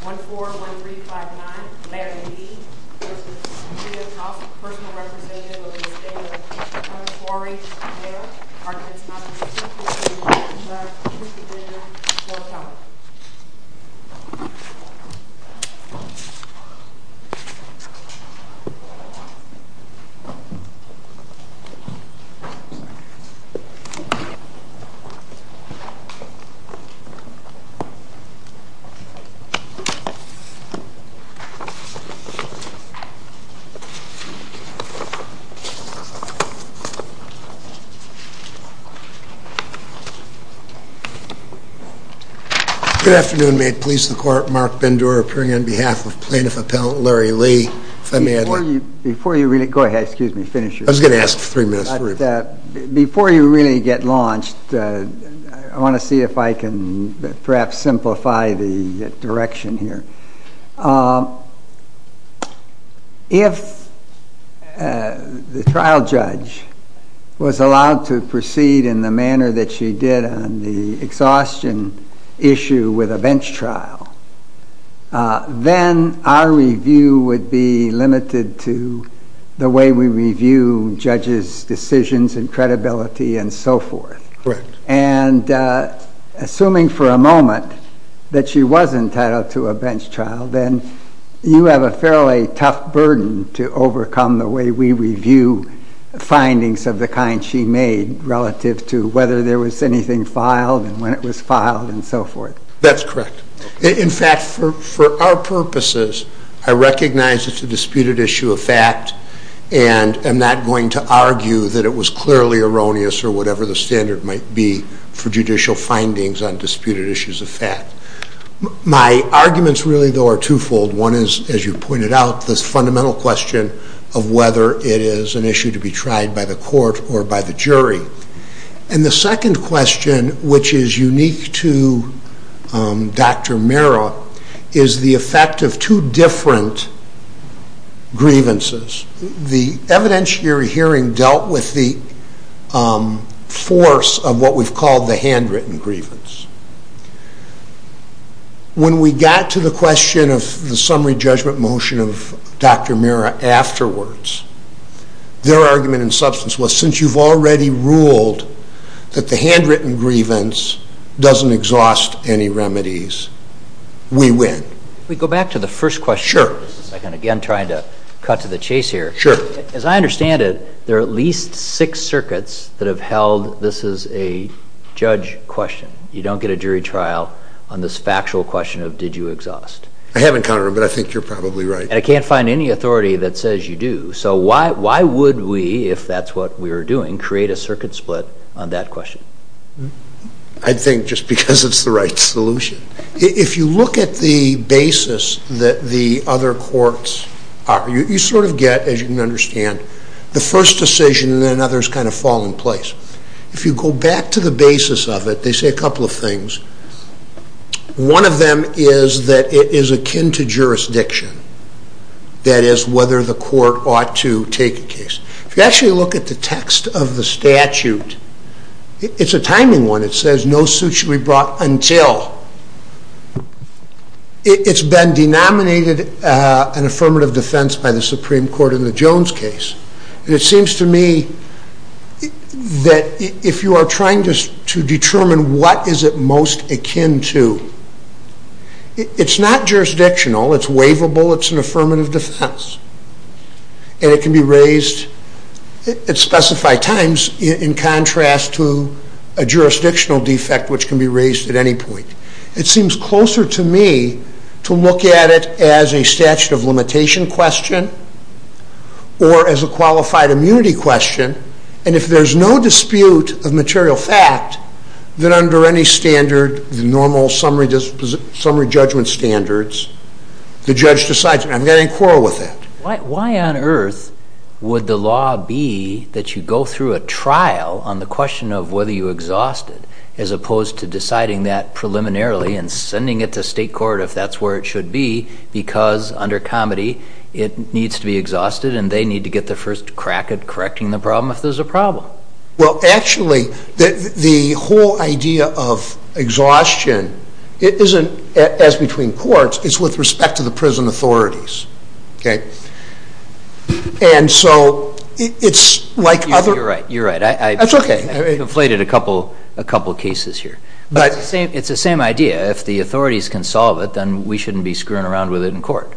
1-4-1-3-5-9 Larry V. This is the city of Tufts. Personal representation of the estate of Mr. Good afternoon. May it please the Court, Mark Bendura appearing on behalf of Plaintiff Appellant Larry Lee. Before you really get launched, I want to see if I can perhaps simplify the direction here. If the trial judge was allowed to proceed in the manner that she did on the exhaustion issue with a bench trial, then our review would be limited to the way we review judges' decisions and credibility and so forth. Assuming for a moment that she was entitled to a bench trial, then you have a fairly tough burden to overcome the way we review findings of the kind she made relative to whether there was anything filed and when it was filed and so forth. That's correct. In fact, for our purposes, I recognize it's a disputed issue of fact and I'm not going to argue that it was clearly erroneous or whatever the standard might be for judicial findings on disputed issues of fact. My arguments really, though, are twofold. One is, as you pointed out, this fundamental question of whether it is an issue to be tried by the court or by the jury. And the second question, which is unique to Dr. Mera, is the effect of two different grievances. The evidence you're hearing dealt with the force of what we've called the handwritten grievance. When we got to the question of the summary judgment motion of Dr. Mera afterwards, their argument in substance was, since you've already ruled that the handwritten grievance doesn't exhaust any remedies, we win. If we go back to the first question, I'm again trying to cut to the chase here. As I understand it, there are at least six circuits that have held this is a judge question. You don't get a jury trial on this factual question of did you exhaust. I haven't counted them, but I think you're probably right. And I can't find any authority that says you do. So why would we, if that's what we were doing, create a circuit split on that question? I think just because it's the right solution. If you look at the basis that the other courts are, you sort of get, as you can understand, the first decision and then others kind of fall in place. If you go back to the basis of it, they say a couple of things. One of them is that it is akin to jurisdiction. That is, whether the court ought to take a case. If you actually look at the text of the statute, it's a timing one. It says no suit should be brought until. It's been denominated an affirmative defense by the Supreme Court in the Jones case. It seems to me that if you are trying to determine what is it most akin to, it's not jurisdictional, it's waivable, it's an affirmative defense. And it can be raised at specified times in contrast to a jurisdictional defect, which can be raised at any point. It seems closer to me to look at it as a statute of limitation question or as a qualified immunity question. And if there's no dispute of material fact, then under any standard, the normal summary judgment standards, the judge decides. And I'm going to Would the law be that you go through a trial on the question of whether you exhausted, as opposed to deciding that preliminarily and sending it to state court if that's where it should be, because under comedy, it needs to be exhausted and they need to get the first crack at correcting the problem if there's a problem. Well, actually, the whole idea of exhaustion isn't as between courts, it's with respect to the prison authorities. Okay. And so it's like other... You're right, you're right. I've conflated a couple cases here. But it's the same idea. If the authorities can solve it, then we shouldn't be screwing around with it in court.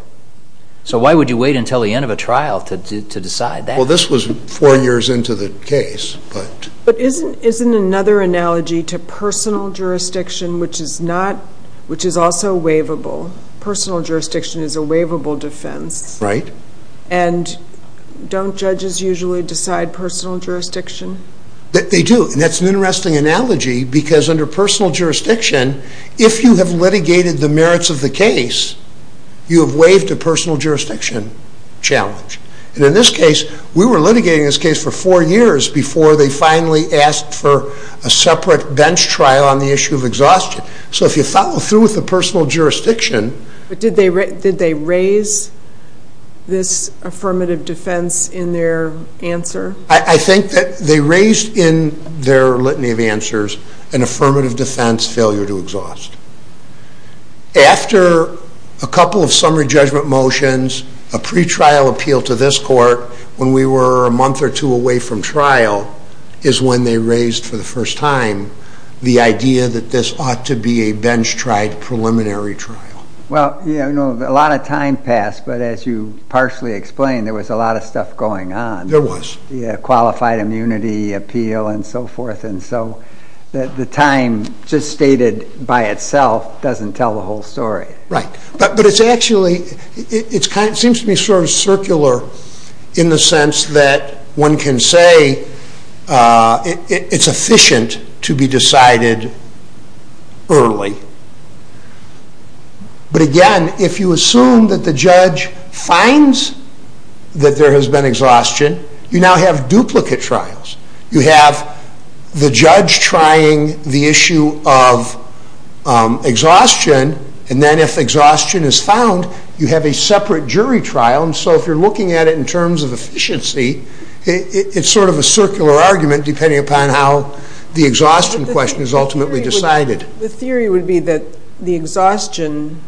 So why would you wait until the end of a trial to decide that? Well, this was four years into the case, but... But isn't another analogy to personal jurisdiction, which is not, which is also waivable. Personal jurisdiction is a waivable defense. Right. And don't judges usually decide personal jurisdiction? They do. And that's an interesting analogy, because under personal jurisdiction, if you have litigated the merits of the case, you have waived a personal jurisdiction challenge. And in this case, we were litigating this case for four years before they finally asked for a separate bench trial on the issue of exhaustion. So if you follow through with the personal jurisdiction... But did they raise this affirmative defense in their answer? I think that they raised in their litany of answers an affirmative defense failure to exhaust. After a couple of summary judgment motions, a pretrial appeal to this court, when we were a month or two away from trial, is when they raised for the first time the idea that this ought to be a bench-tried preliminary trial. Well, a lot of time passed, but as you partially explained, there was a lot of stuff going on. There was. Qualified immunity, appeal, and so forth. And so the time just stated by itself doesn't tell the whole story. Right. But it seems to be sort of circular in the sense that one can say it's efficient to be decided early. But again, if you assume that the judge finds that there has been exhaustion, you now have duplicate trials. You have the judge trying the issue of exhaustion, and then if exhaustion is found, you have a separate jury trial. And so if you're looking at it in terms of efficiency, it's sort of a circular argument depending upon how the exhaustion question is ultimately decided. The theory would be that the exhaustion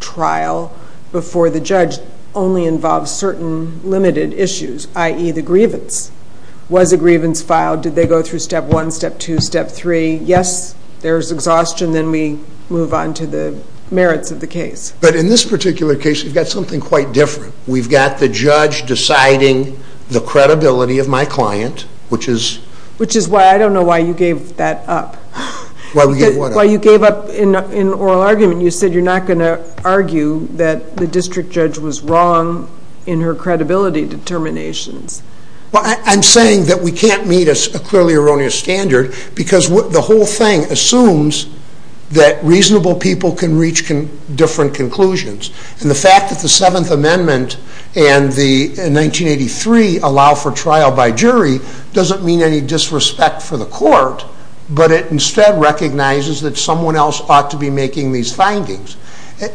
trial before the judge only involves certain limited issues, i.e. the grievance. Was a grievance filed? Did they go through step one, step two, step three? Yes, there's exhaustion. Then we move on to the merits of the case. But in this particular case, we've got something quite different. We've got the judge deciding the credibility of my client, which is... Which is why I don't know why you gave that up. Why we gave what up? Why you gave up in oral argument. You said you're not going to argue that the district judge was wrong in her credibility determinations. Well, I'm saying that we can't meet a clearly erroneous standard because the whole thing assumes that reasonable people can reach different conclusions. And the fact that the Seventh Amendment and the 1983 allow for trial by jury doesn't mean any disrespect for the court, but it instead recognizes that someone else ought to be making these findings.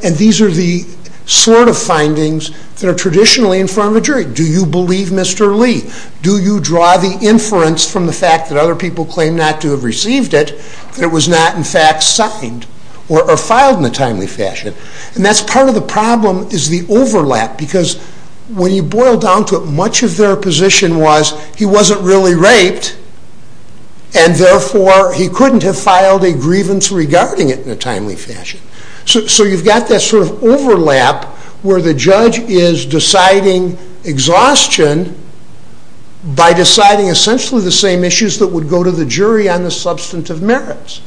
And these are the sort of findings that are traditionally in front of a jury. Do you believe Mr. Lee? Do you draw the inference from the fact that other people claim not to have received it, that it was not in fact signed or filed in a timely fashion? And that's part of the problem, is the overlap. Because when you boil down to it, much of their position was he wasn't really raped, and therefore he couldn't have filed a grievance regarding it in a timely fashion. So you've got that sort of overlap where the judge is deciding exhaustion by deciding essentially the same issues that would go to the jury on the substantive merits.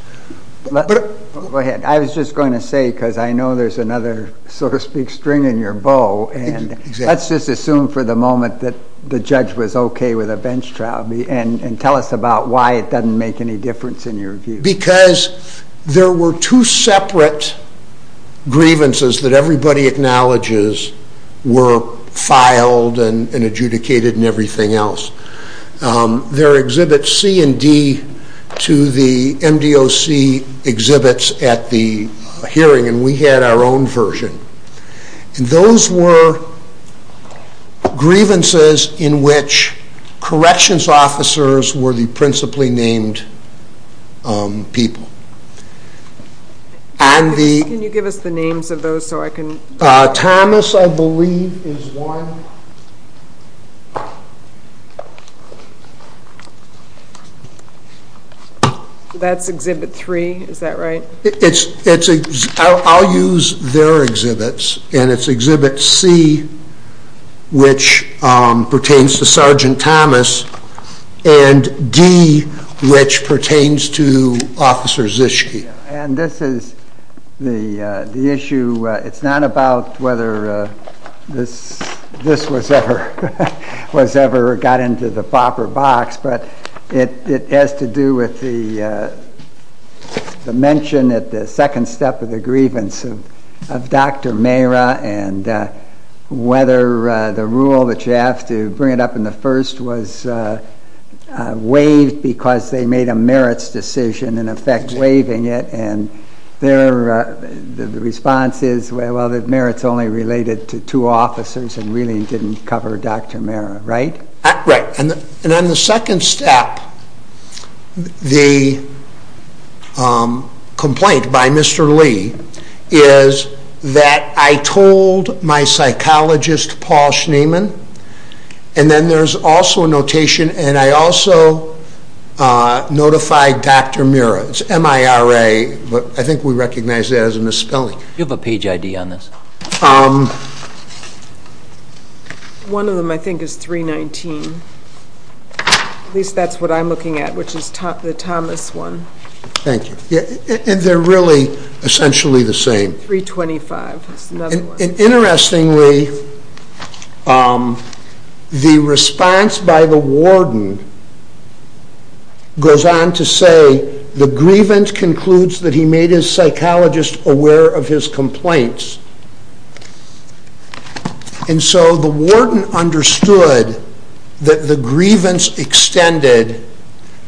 Go ahead. I was just going to say, because I know there's another, so to speak, string in your bow, and let's just assume for the moment that the judge was okay with a bench trial, and tell us about why it doesn't make any difference in your view. Because there were two separate grievances that everybody acknowledges were filed and adjudicated and everything else. There are exhibits C and D to the MDOC exhibits at the hearing, and we had our own version. And those were grievances in which corrections officers were the principally named people. Can you give us the names of those so I can... Thomas, I believe, is one. That's exhibit three, is that right? I'll use their exhibits, and it's exhibit C, which pertains to Sergeant Thomas, and D, which pertains to Officer Zischke. And this is the issue, it's not about whether this was ever got into the proper box, but it has to do with the mention at the second step of the grievance of Dr. Mehra and whether the rule that you have to bring it up in the first was waived because they made a merits decision in effect waiving it, and the response is, well, the merits only related to two officers and really didn't cover Dr. Mehra, right? Right. And on the second step, the complaint by Mr. Lee is that I told my psychologist, Paul Schneeman, and then there's also a notation, and I also notified Dr. Mehra. It's M-I-R-A, but I think we recognize that as a misspelling. Do you have a page ID on this? One of them, I think, is 319. At least that's what I'm looking at, which is the Thomas one. Thank you. And they're really essentially the same. 325 is another one. Interestingly, the response by the warden goes on to say, the grievance concludes that he made his psychologist aware of his complaints. And so the warden understood that the grievance extended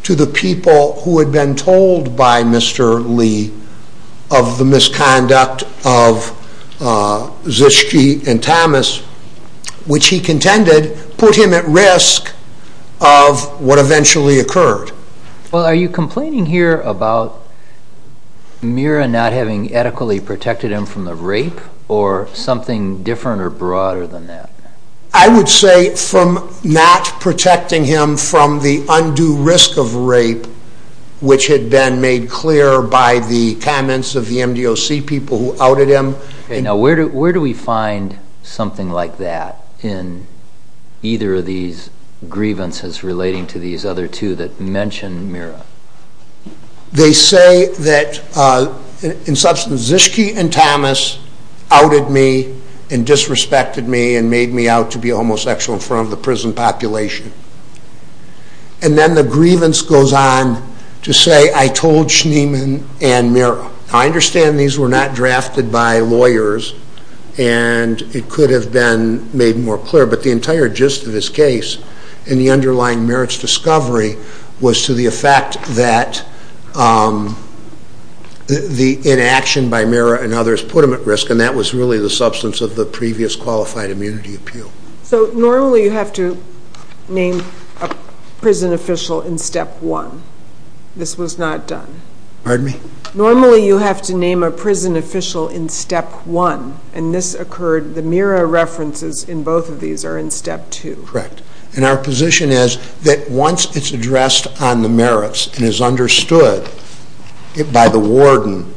to the people who had been told by Mr. Lee of the misconduct of Zischke and Thomas, which he contended put him at risk of what eventually occurred. Well, are you complaining here about Mehra not having adequately protected him from the rape, or something different or broader than that? I would say from not protecting him from the undue risk of rape, which had been made clear by the comments of the MDOC people who outed him. Now, where do we find something like that in either of these grievances relating to these other two that mention Mehra? They say that, in substance, Zischke and Thomas outed me and disrespected me and made me out to be homosexual in front of the prison population. And then the grievance goes on to say, I told Schneeman and Mehra. Now, I understand these were not drafted by lawyers, and it could have been made more clear, but the entire gist of this case, and the underlying Mehra's discovery, was to the effect that the inaction by Mehra and others put him at risk, and that was really the substance of the previous qualified immunity appeal. So normally you have to name a prison official in step one. This was not done. Pardon me? Normally you have to name a prison official in step one, and this occurred, the Mehra references in both of these are in step two. Correct. And our position is that once it's addressed on the merits and is understood by the warden,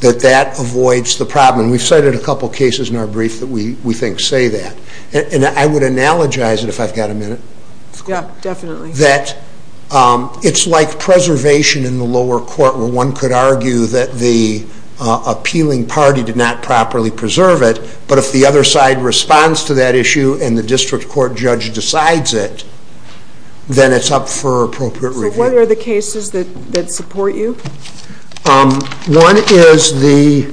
that that avoids the problem. And we've cited a couple cases in our brief that we think say that. And I would analogize it, if I've got a minute. Yeah, definitely. That it's like preservation in the lower court, where one could argue that the appealing party did not properly preserve it, but if the other side responds to that issue and the district court judge decides it, then it's up for appropriate review. So what are the cases that support you? One is the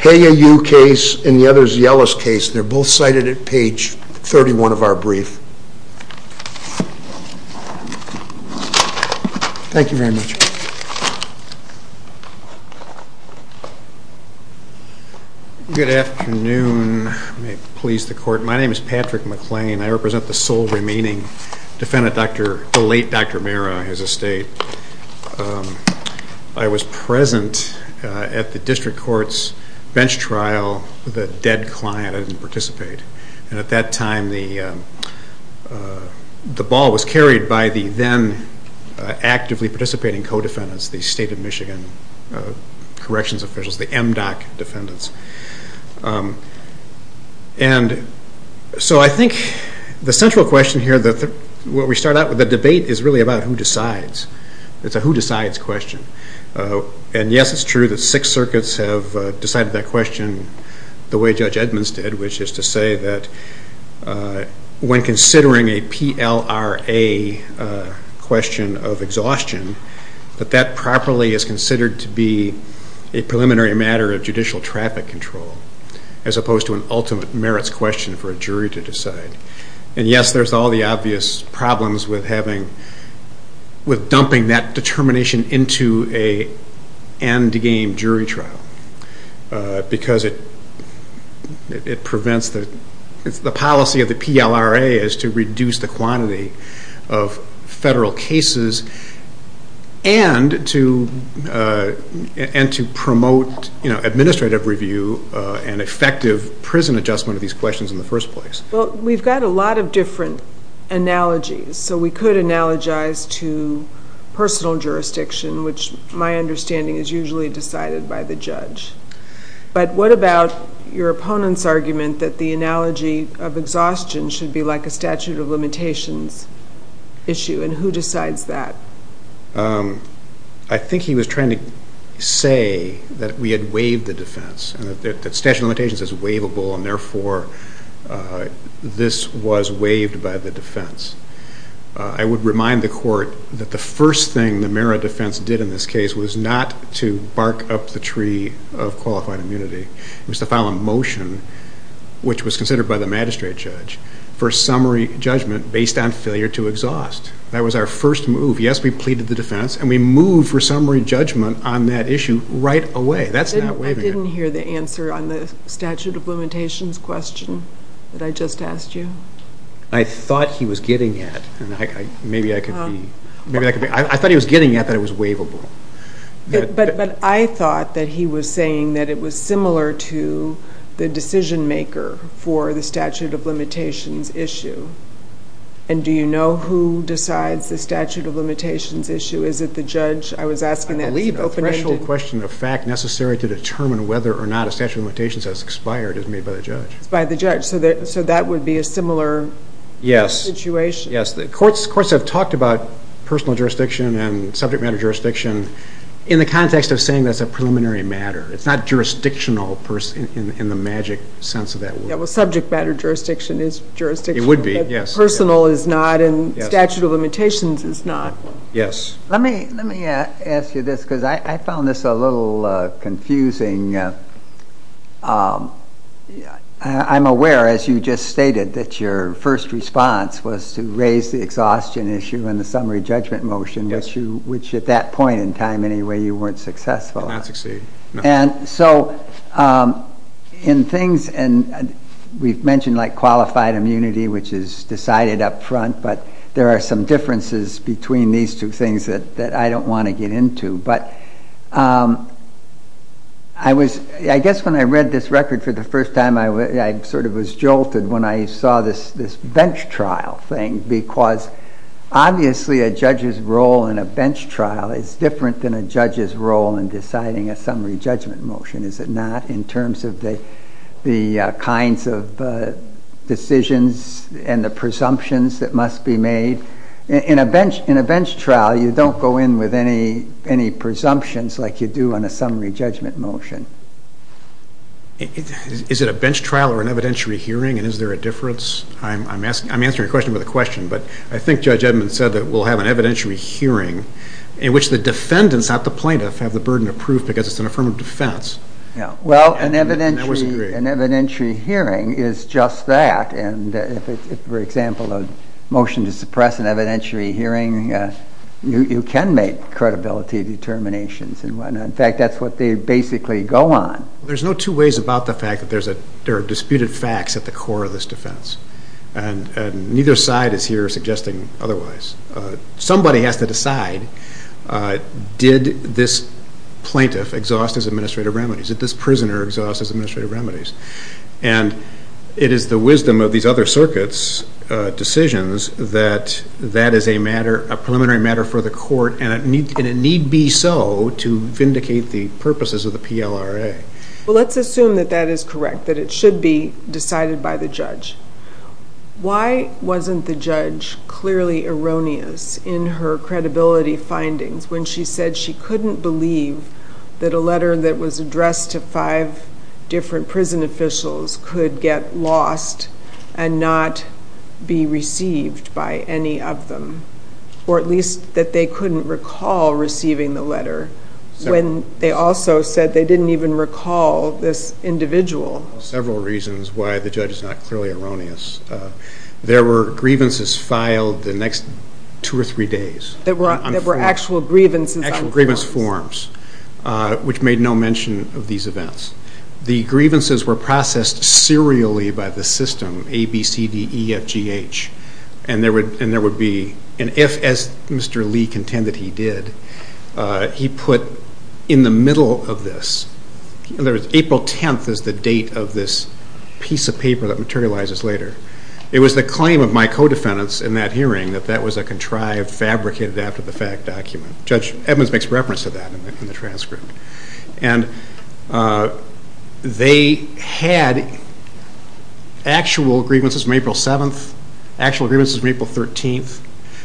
Haya Yu case, and the other is the Ellis case. They're both cited at page 31 of our brief. Thank you very much. Good afternoon. May it please the Court. My name is Patrick McLean. I represent the sole remaining defendant, the late Dr. Mehra, his estate. I was present at the district court's bench trial, the dead client. I didn't participate. And at that time, the ball was carried by the then actively participating co-defendants, the state of Michigan corrections officials, the MDOC defendants. And so I think the central question here, what we start out with, the debate is really about who decides. It's a who decides question. And yes, it's true that six circuits have decided that question the way Judge Edmonds did, which is to say that when considering a PLRA question of exhaustion, that that properly is considered to be a preliminary matter of judicial traffic control as opposed to an ultimate merits question for a jury to decide. And yes, there's all the obvious problems with dumping that determination into an endgame jury trial because it prevents the policy of the PLRA is to reduce the quantity of federal cases and to promote administrative review and effective prison adjustment of these questions in the first place. Well, we've got a lot of different analogies. So we could analogize to personal jurisdiction, which my understanding is usually decided by the judge. But what about your opponent's argument that the analogy of exhaustion should be like a statute of limitations issue, and who decides that? I think he was trying to say that we had waived the defense and that statute of limitations is waivable, and therefore this was waived by the defense. I would remind the court that the first thing the merit defense did in this case was not to bark up the tree of qualified immunity. It was to file a motion, which was considered by the magistrate judge, for summary judgment based on failure to exhaust. That was our first move. Yes, we pleaded the defense, and we moved for summary judgment on that issue right away. That's not waiving it. I didn't hear the answer on the statute of limitations question that I just asked you. I thought he was getting at that it was waivable. But I thought that he was saying that it was similar to the decision maker for the statute of limitations issue. And do you know who decides the statute of limitations issue? Is it the judge? I believe a threshold question of fact necessary to determine whether or not a statute of limitations has expired is made by the judge. It's by the judge. So that would be a similar situation. Yes. Courts have talked about personal jurisdiction and subject matter jurisdiction in the context of saying that's a preliminary matter. It's not jurisdictional in the magic sense of that word. Well, subject matter jurisdiction is jurisdictional. It would be, yes. Personal is not, and statute of limitations is not. Yes. Let me ask you this because I found this a little confusing. I'm aware, as you just stated, that your first response was to raise the exhaustion issue and the summary judgment motion, which at that point in time anyway you weren't successful. I did not succeed. And so in things, and we've mentioned like qualified immunity, which is decided up front, but there are some differences between these two things that I don't want to get into. But I guess when I read this record for the first time I sort of was jolted when I saw this bench trial thing because obviously a judge's role in a bench trial is different than a judge's role in deciding a summary judgment motion, is it not, in terms of the kinds of decisions and the presumptions that must be made. In a bench trial you don't go in with any presumptions like you do on a summary judgment motion. Is it a bench trial or an evidentiary hearing, and is there a difference? I'm answering your question with a question, but I think Judge Edmund said that we'll have an evidentiary hearing in which the defendants, not the plaintiff, have the burden of proof because it's an affirmative defense. Well, an evidentiary hearing is just that. And if, for example, a motion to suppress an evidentiary hearing, you can make credibility determinations and whatnot. In fact, that's what they basically go on. There's no two ways about the fact that there are disputed facts at the core of this defense, and neither side is here suggesting otherwise. Somebody has to decide, did this plaintiff exhaust his administrative remedies? Did this prisoner exhaust his administrative remedies? And it is the wisdom of these other circuits' decisions that that is a matter, a preliminary matter for the court, and it need be so to vindicate the purposes of the PLRA. Well, let's assume that that is correct, that it should be decided by the judge. Why wasn't the judge clearly erroneous in her credibility findings when she said she couldn't believe that a letter that was addressed to five different prison officials could get lost and not be received by any of them, or at least that they couldn't recall receiving the letter when they also said they didn't even recall this individual? Well, there are several reasons why the judge is not clearly erroneous. There were grievances filed the next two or three days. There were actual grievance forms. Actual grievance forms, which made no mention of these events. The grievances were processed serially by the system, A, B, C, D, E, F, G, H, and there would be an F, as Mr. Lee contended he did. He put in the middle of this. In other words, April 10th is the date of this piece of paper that materializes later. It was the claim of my co-defendants in that hearing that that was a contrived, fabricated, after-the-fact document. Judge Edmonds makes reference to that in the transcript. And they had actual grievances from April 7th, actual grievances from April 13th.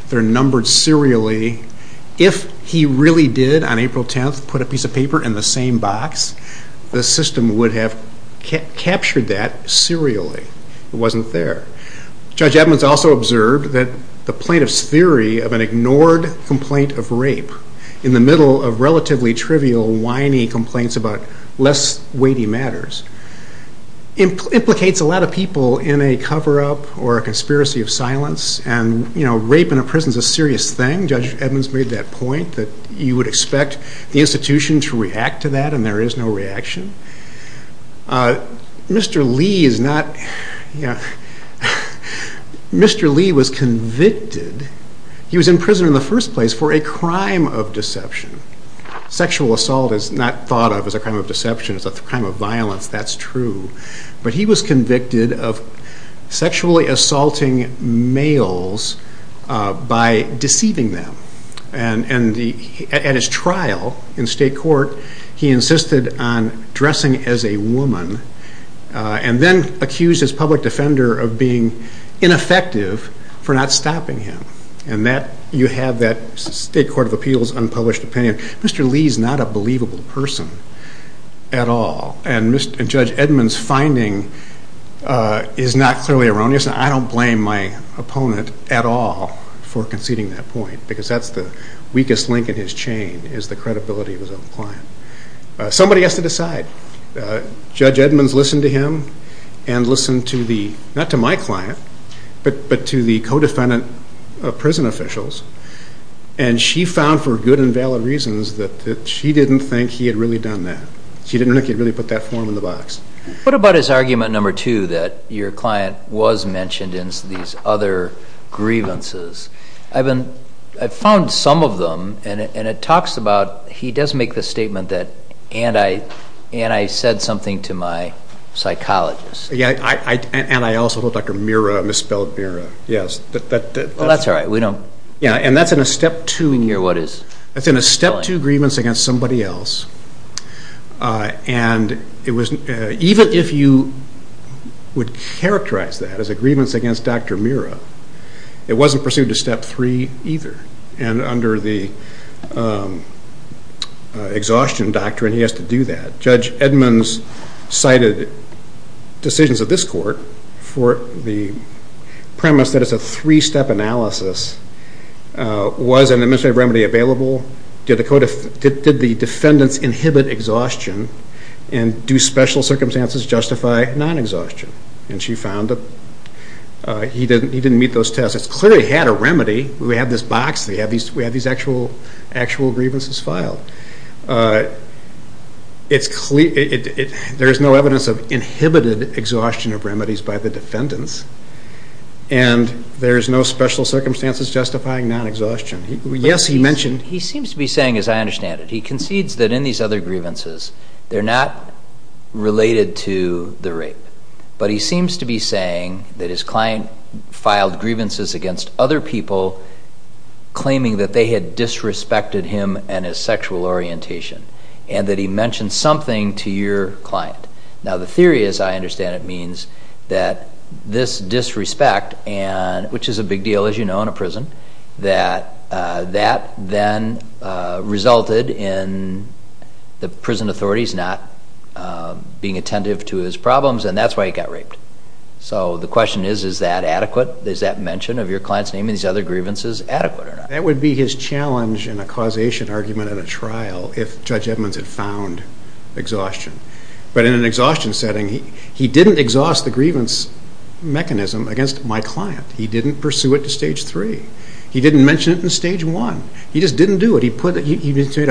They're numbered serially. If he really did, on April 10th, put a piece of paper in the same box, the system would have captured that serially. It wasn't there. Judge Edmonds also observed that the plaintiff's theory of an ignored complaint of rape in the middle of relatively trivial, whiny complaints about less weighty matters implicates a lot of people in a cover-up or a conspiracy of silence and, you know, rape in a prison is a serious thing. Judge Edmonds made that point that you would expect the institution to react to that and there is no reaction. Mr. Lee is not, you know, Mr. Lee was convicted, he was in prison in the first place for a crime of deception. Sexual assault is not thought of as a crime of deception, it's a crime of violence, that's true. But he was convicted of sexually assaulting males by deceiving them. And at his trial in state court, he insisted on dressing as a woman and then accused his public defender of being ineffective for not stopping him. And you have that State Court of Appeals unpublished opinion. Mr. Lee is not a believable person at all. And Judge Edmonds' finding is not clearly erroneous and I don't blame my opponent at all for conceding that point because that's the weakest link in his chain is the credibility of his own client. Somebody has to decide. Judge Edmonds listened to him and listened to the, not to my client, but to the co-defendant of prison officials and she found for good and valid reasons that she didn't think he had really done that. She didn't think he had really put that form in the box. What about his argument number two that your client was mentioned in these other grievances? I've found some of them and it talks about, he does make the statement that, and I said something to my psychologist. And I also told Dr. Mirra, I misspelled Mirra, yes. That's all right, we don't. Yeah, and that's in a step two. That's in a step two grievance against somebody else and even if you would characterize that as a grievance against Dr. Mirra, it wasn't pursued to step three either and under the exhaustion doctrine he has to do that. Judge Edmonds cited decisions of this court for the premise that it's a three-step analysis, was an administrative remedy available, did the defendants inhibit exhaustion, and do special circumstances justify non-exhaustion? And she found that he didn't meet those tests. It clearly had a remedy. We have this box, we have these actual grievances filed. There is no evidence of inhibited exhaustion of remedies by the defendants and there is no special circumstances justifying non-exhaustion. Yes, he mentioned. He seems to be saying, as I understand it, he concedes that in these other grievances, they're not related to the rape, but he seems to be saying that his client filed grievances against other people claiming that they had disrespected him and his sexual orientation and that he mentioned something to your client. Now, the theory, as I understand it, means that this disrespect, which is a big deal, as you know, in a prison, that that then resulted in the prison authorities not being attentive to his problems and that's why he got raped. So the question is, is that adequate? Is that mention of your client's name in these other grievances adequate or not? That would be his challenge in a causation argument in a trial if Judge Edmonds had found exhaustion. But in an exhaustion setting, he didn't exhaust the grievance mechanism against my client. He didn't pursue it to Stage 3. He didn't mention it in Stage 1. He just didn't do it. He made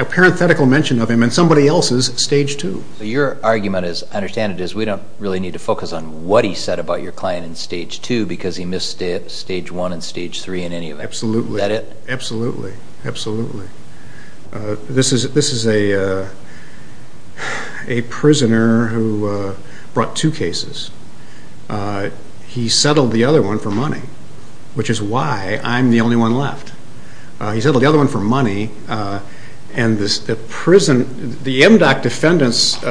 a parenthetical mention of him in somebody else's Stage 2. Your argument, as I understand it, is we don't really need to focus on what he said about your client in Stage 2 because he missed Stage 1 and Stage 3 in any event. Absolutely. Is that it? Absolutely. Absolutely. This is a prisoner who brought two cases. He settled the other one for money, which is why I'm the only one left. He settled the other one for money and the MDOC defendants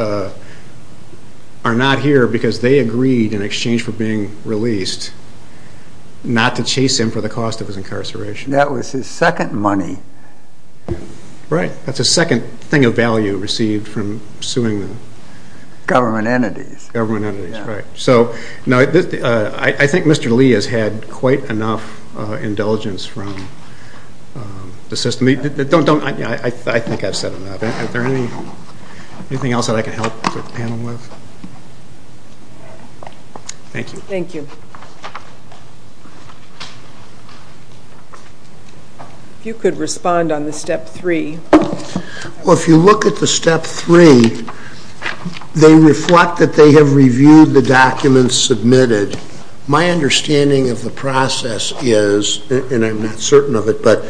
are not here because they agreed, in exchange for being released, not to chase him for the cost of his incarceration. That was his second money. Right. That's the second thing of value received from suing them. Government entities. Government entities, right. I think Mr. Lee has had quite enough indulgence from the system. I think I've said enough. Is there anything else that I can help the panel with? Thank you. Thank you. If you could respond on the Step 3. Well, if you look at the Step 3, they reflect that they have reviewed the documents submitted. My understanding of the process is, and I'm not certain of it, but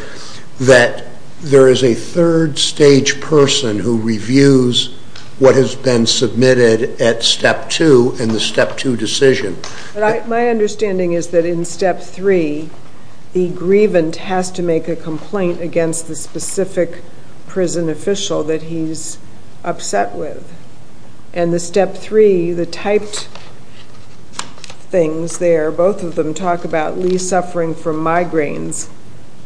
that there is a third stage person who reviews what has been submitted at Step 2 and the Step 2 decision. My understanding is that in Step 3, the grievant has to make a complaint against the specific prison official that he's upset with. And the Step 3, the typed things there, both of them talk about Lee suffering from migraines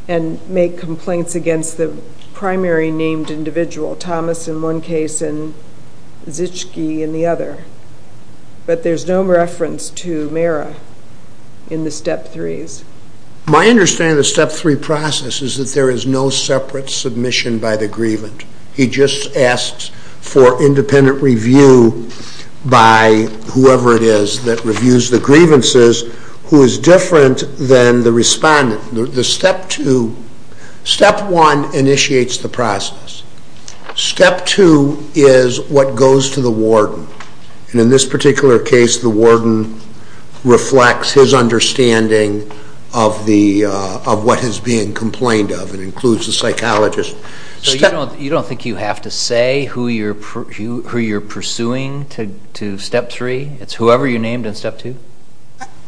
and make complaints against the primary named individual, Thomas in one case and Zischke in the other. But there's no reference to Mira in the Step 3s. My understanding of the Step 3 process is that there is no separate submission by the grievant. He just asks for independent review by whoever it is that reviews the grievances, who is different than the respondent. The Step 2, Step 1 initiates the process. Step 2 is what goes to the warden. And in this particular case, the warden reflects his understanding of what is being complained of and includes the psychologist. So you don't think you have to say who you're pursuing to Step 3? It's whoever you named in Step 2?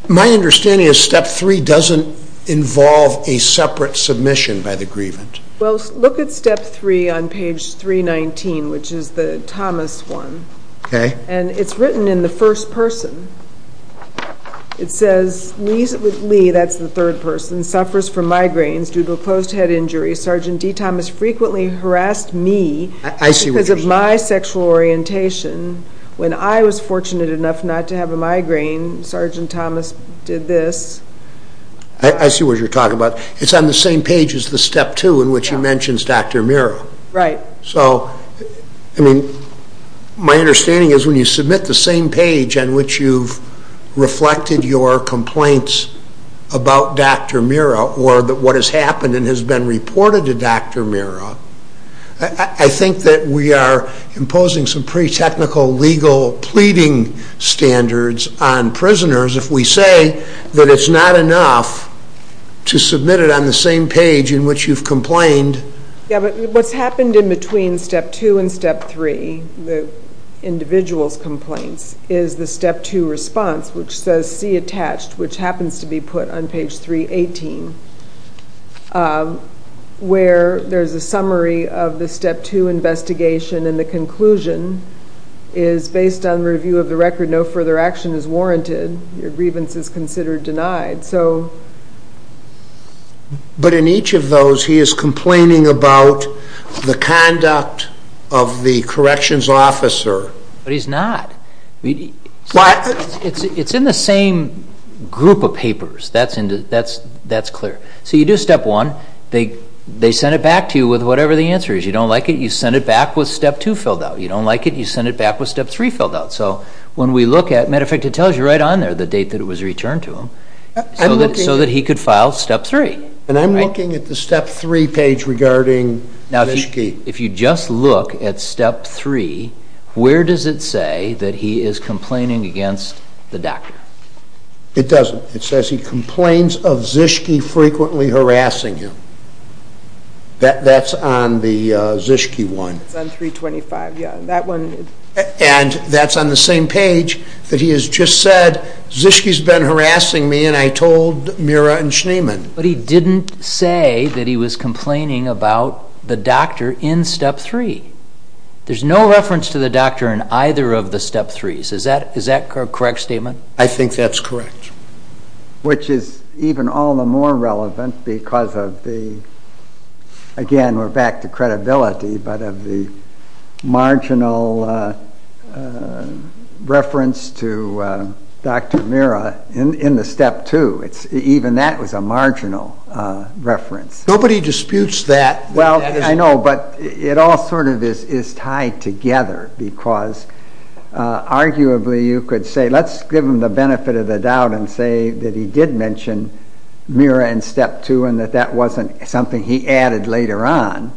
My understanding is Step 3 doesn't involve a separate submission by the grievant. Well, look at Step 3 on page 319, which is the Thomas one. And it's written in the first person. It says, Lee, that's the third person, suffers from migraines due to a closed head injury. Sergeant D. Thomas frequently harassed me because of my sexual orientation. When I was fortunate enough not to have a migraine, Sergeant Thomas did this. I see what you're talking about. It's on the same page as the Step 2 in which he mentions Dr. Mira. Right. So, I mean, my understanding is when you submit the same page on which you've reflected your complaints about Dr. Mira or what has happened and has been reported to Dr. Mira, I think that we are imposing some pretty technical legal pleading standards on prisoners if we say that it's not enough to submit it on the same page in which you've complained. Yeah, but what's happened in between Step 2 and Step 3, the individual's complaints, is the Step 2 response, which says, see attached, which happens to be put on page 318, where there's a summary of the Step 2 investigation and the conclusion is, based on review of the record, no further action is warranted. Your grievance is considered denied. But in each of those, he is complaining about the conduct of the corrections officer. But he's not. It's in the same group of papers. That's clear. So you do Step 1. They send it back to you with whatever the answer is. You don't like it, you send it back with Step 2 filled out. You don't like it, you send it back with Step 3 filled out. So when we look at it, as a matter of fact, it tells you right on there the date that it was returned to him so that he could file Step 3. And I'm looking at the Step 3 page regarding Zischke. If you just look at Step 3, where does it say that he is complaining against the doctor? It doesn't. It says he complains of Zischke frequently harassing him. That's on the Zischke one. It's on 325, yeah. And that's on the same page that he has just said, Zischke's been harassing me and I told Mira and Schneemann. But he didn't say that he was complaining about the doctor in Step 3. There's no reference to the doctor in either of the Step 3s. Is that a correct statement? I think that's correct. Which is even all the more relevant because of the, again, we're back to credibility, but of the marginal reference to Dr. Mira in the Step 2. Even that was a marginal reference. Nobody disputes that. Well, I know, but it all sort of is tied together because arguably you could say, let's give him the benefit of the doubt and say that he did mention Mira in Step 2 and that that wasn't something he added later on.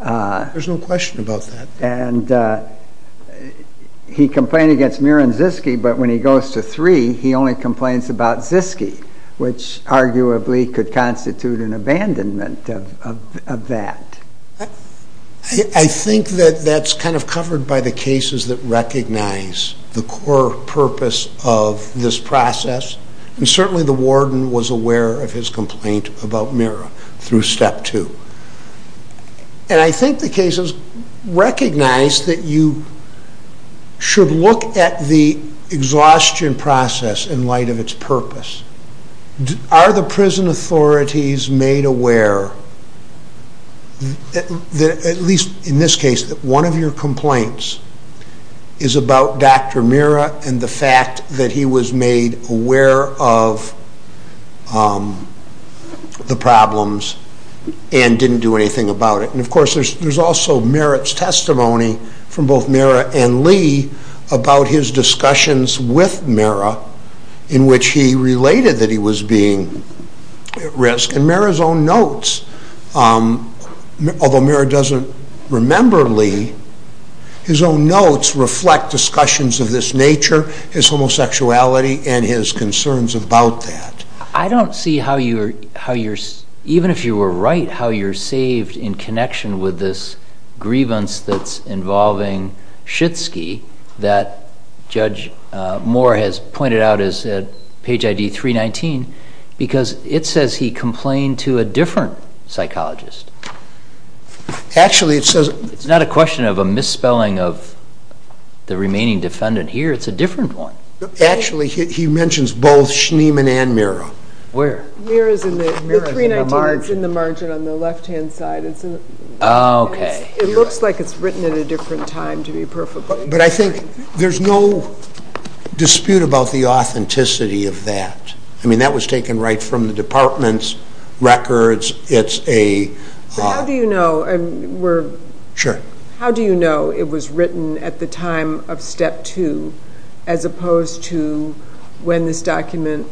There's no question about that. And he complained against Mira and Zischke, but when he goes to 3, he only complains about Zischke, which arguably could constitute an abandonment of that. I think that that's kind of covered by the cases that recognize the core purpose of this process. And certainly the warden was aware of his complaint about Mira through Step 2. And I think the cases recognize that you should look at the exhaustion process in light of its purpose. Are the prison authorities made aware, at least in this case, that one of your complaints is about Dr. Mira and the fact that he was made aware of the problems and didn't do anything about it. And, of course, there's also Mira's testimony from both Mira and Lee about his discussions with Mira in which he related that he was being at risk. And Mira's own notes, although Mira doesn't remember Lee, his own notes reflect discussions of this nature, his homosexuality, and his concerns about that. I don't see how you're, even if you were right, how you're saved in connection with this grievance that's involving Zischke that Judge Moore has pointed out as Page ID 319 because it says he complained to a different psychologist. Actually, it says... It's not a question of a misspelling of the remaining defendant here. It's a different one. Actually, he mentions both Schneeman and Mira. Where? Mira's in the margin on the left-hand side. Oh, okay. It looks like it's written at a different time, to be perfect. But I think there's no dispute about the authenticity of that. I mean, that was taken right from the department's records. How do you know it was written at the time of Step 2 as opposed to when this document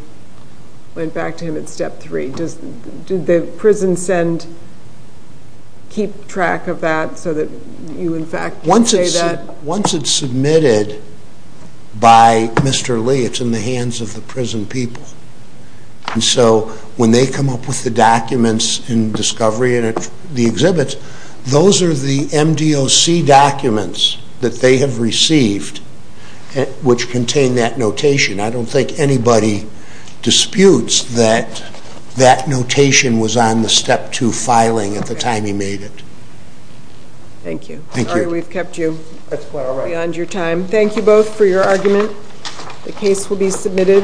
went back to him at Step 3? Did the prison send keep track of that so that you, in fact, can say that? Once it's submitted by Mr. Lee, it's in the hands of the prison people. And so when they come up with the documents in discovery and at the exhibit, those are the MDOC documents that they have received which contain that notation. I don't think anybody disputes that that notation was on the Step 2 filing at the time he made it. Thank you. Sorry we've kept you beyond your time. Thank you both for your argument. The case will be submitted.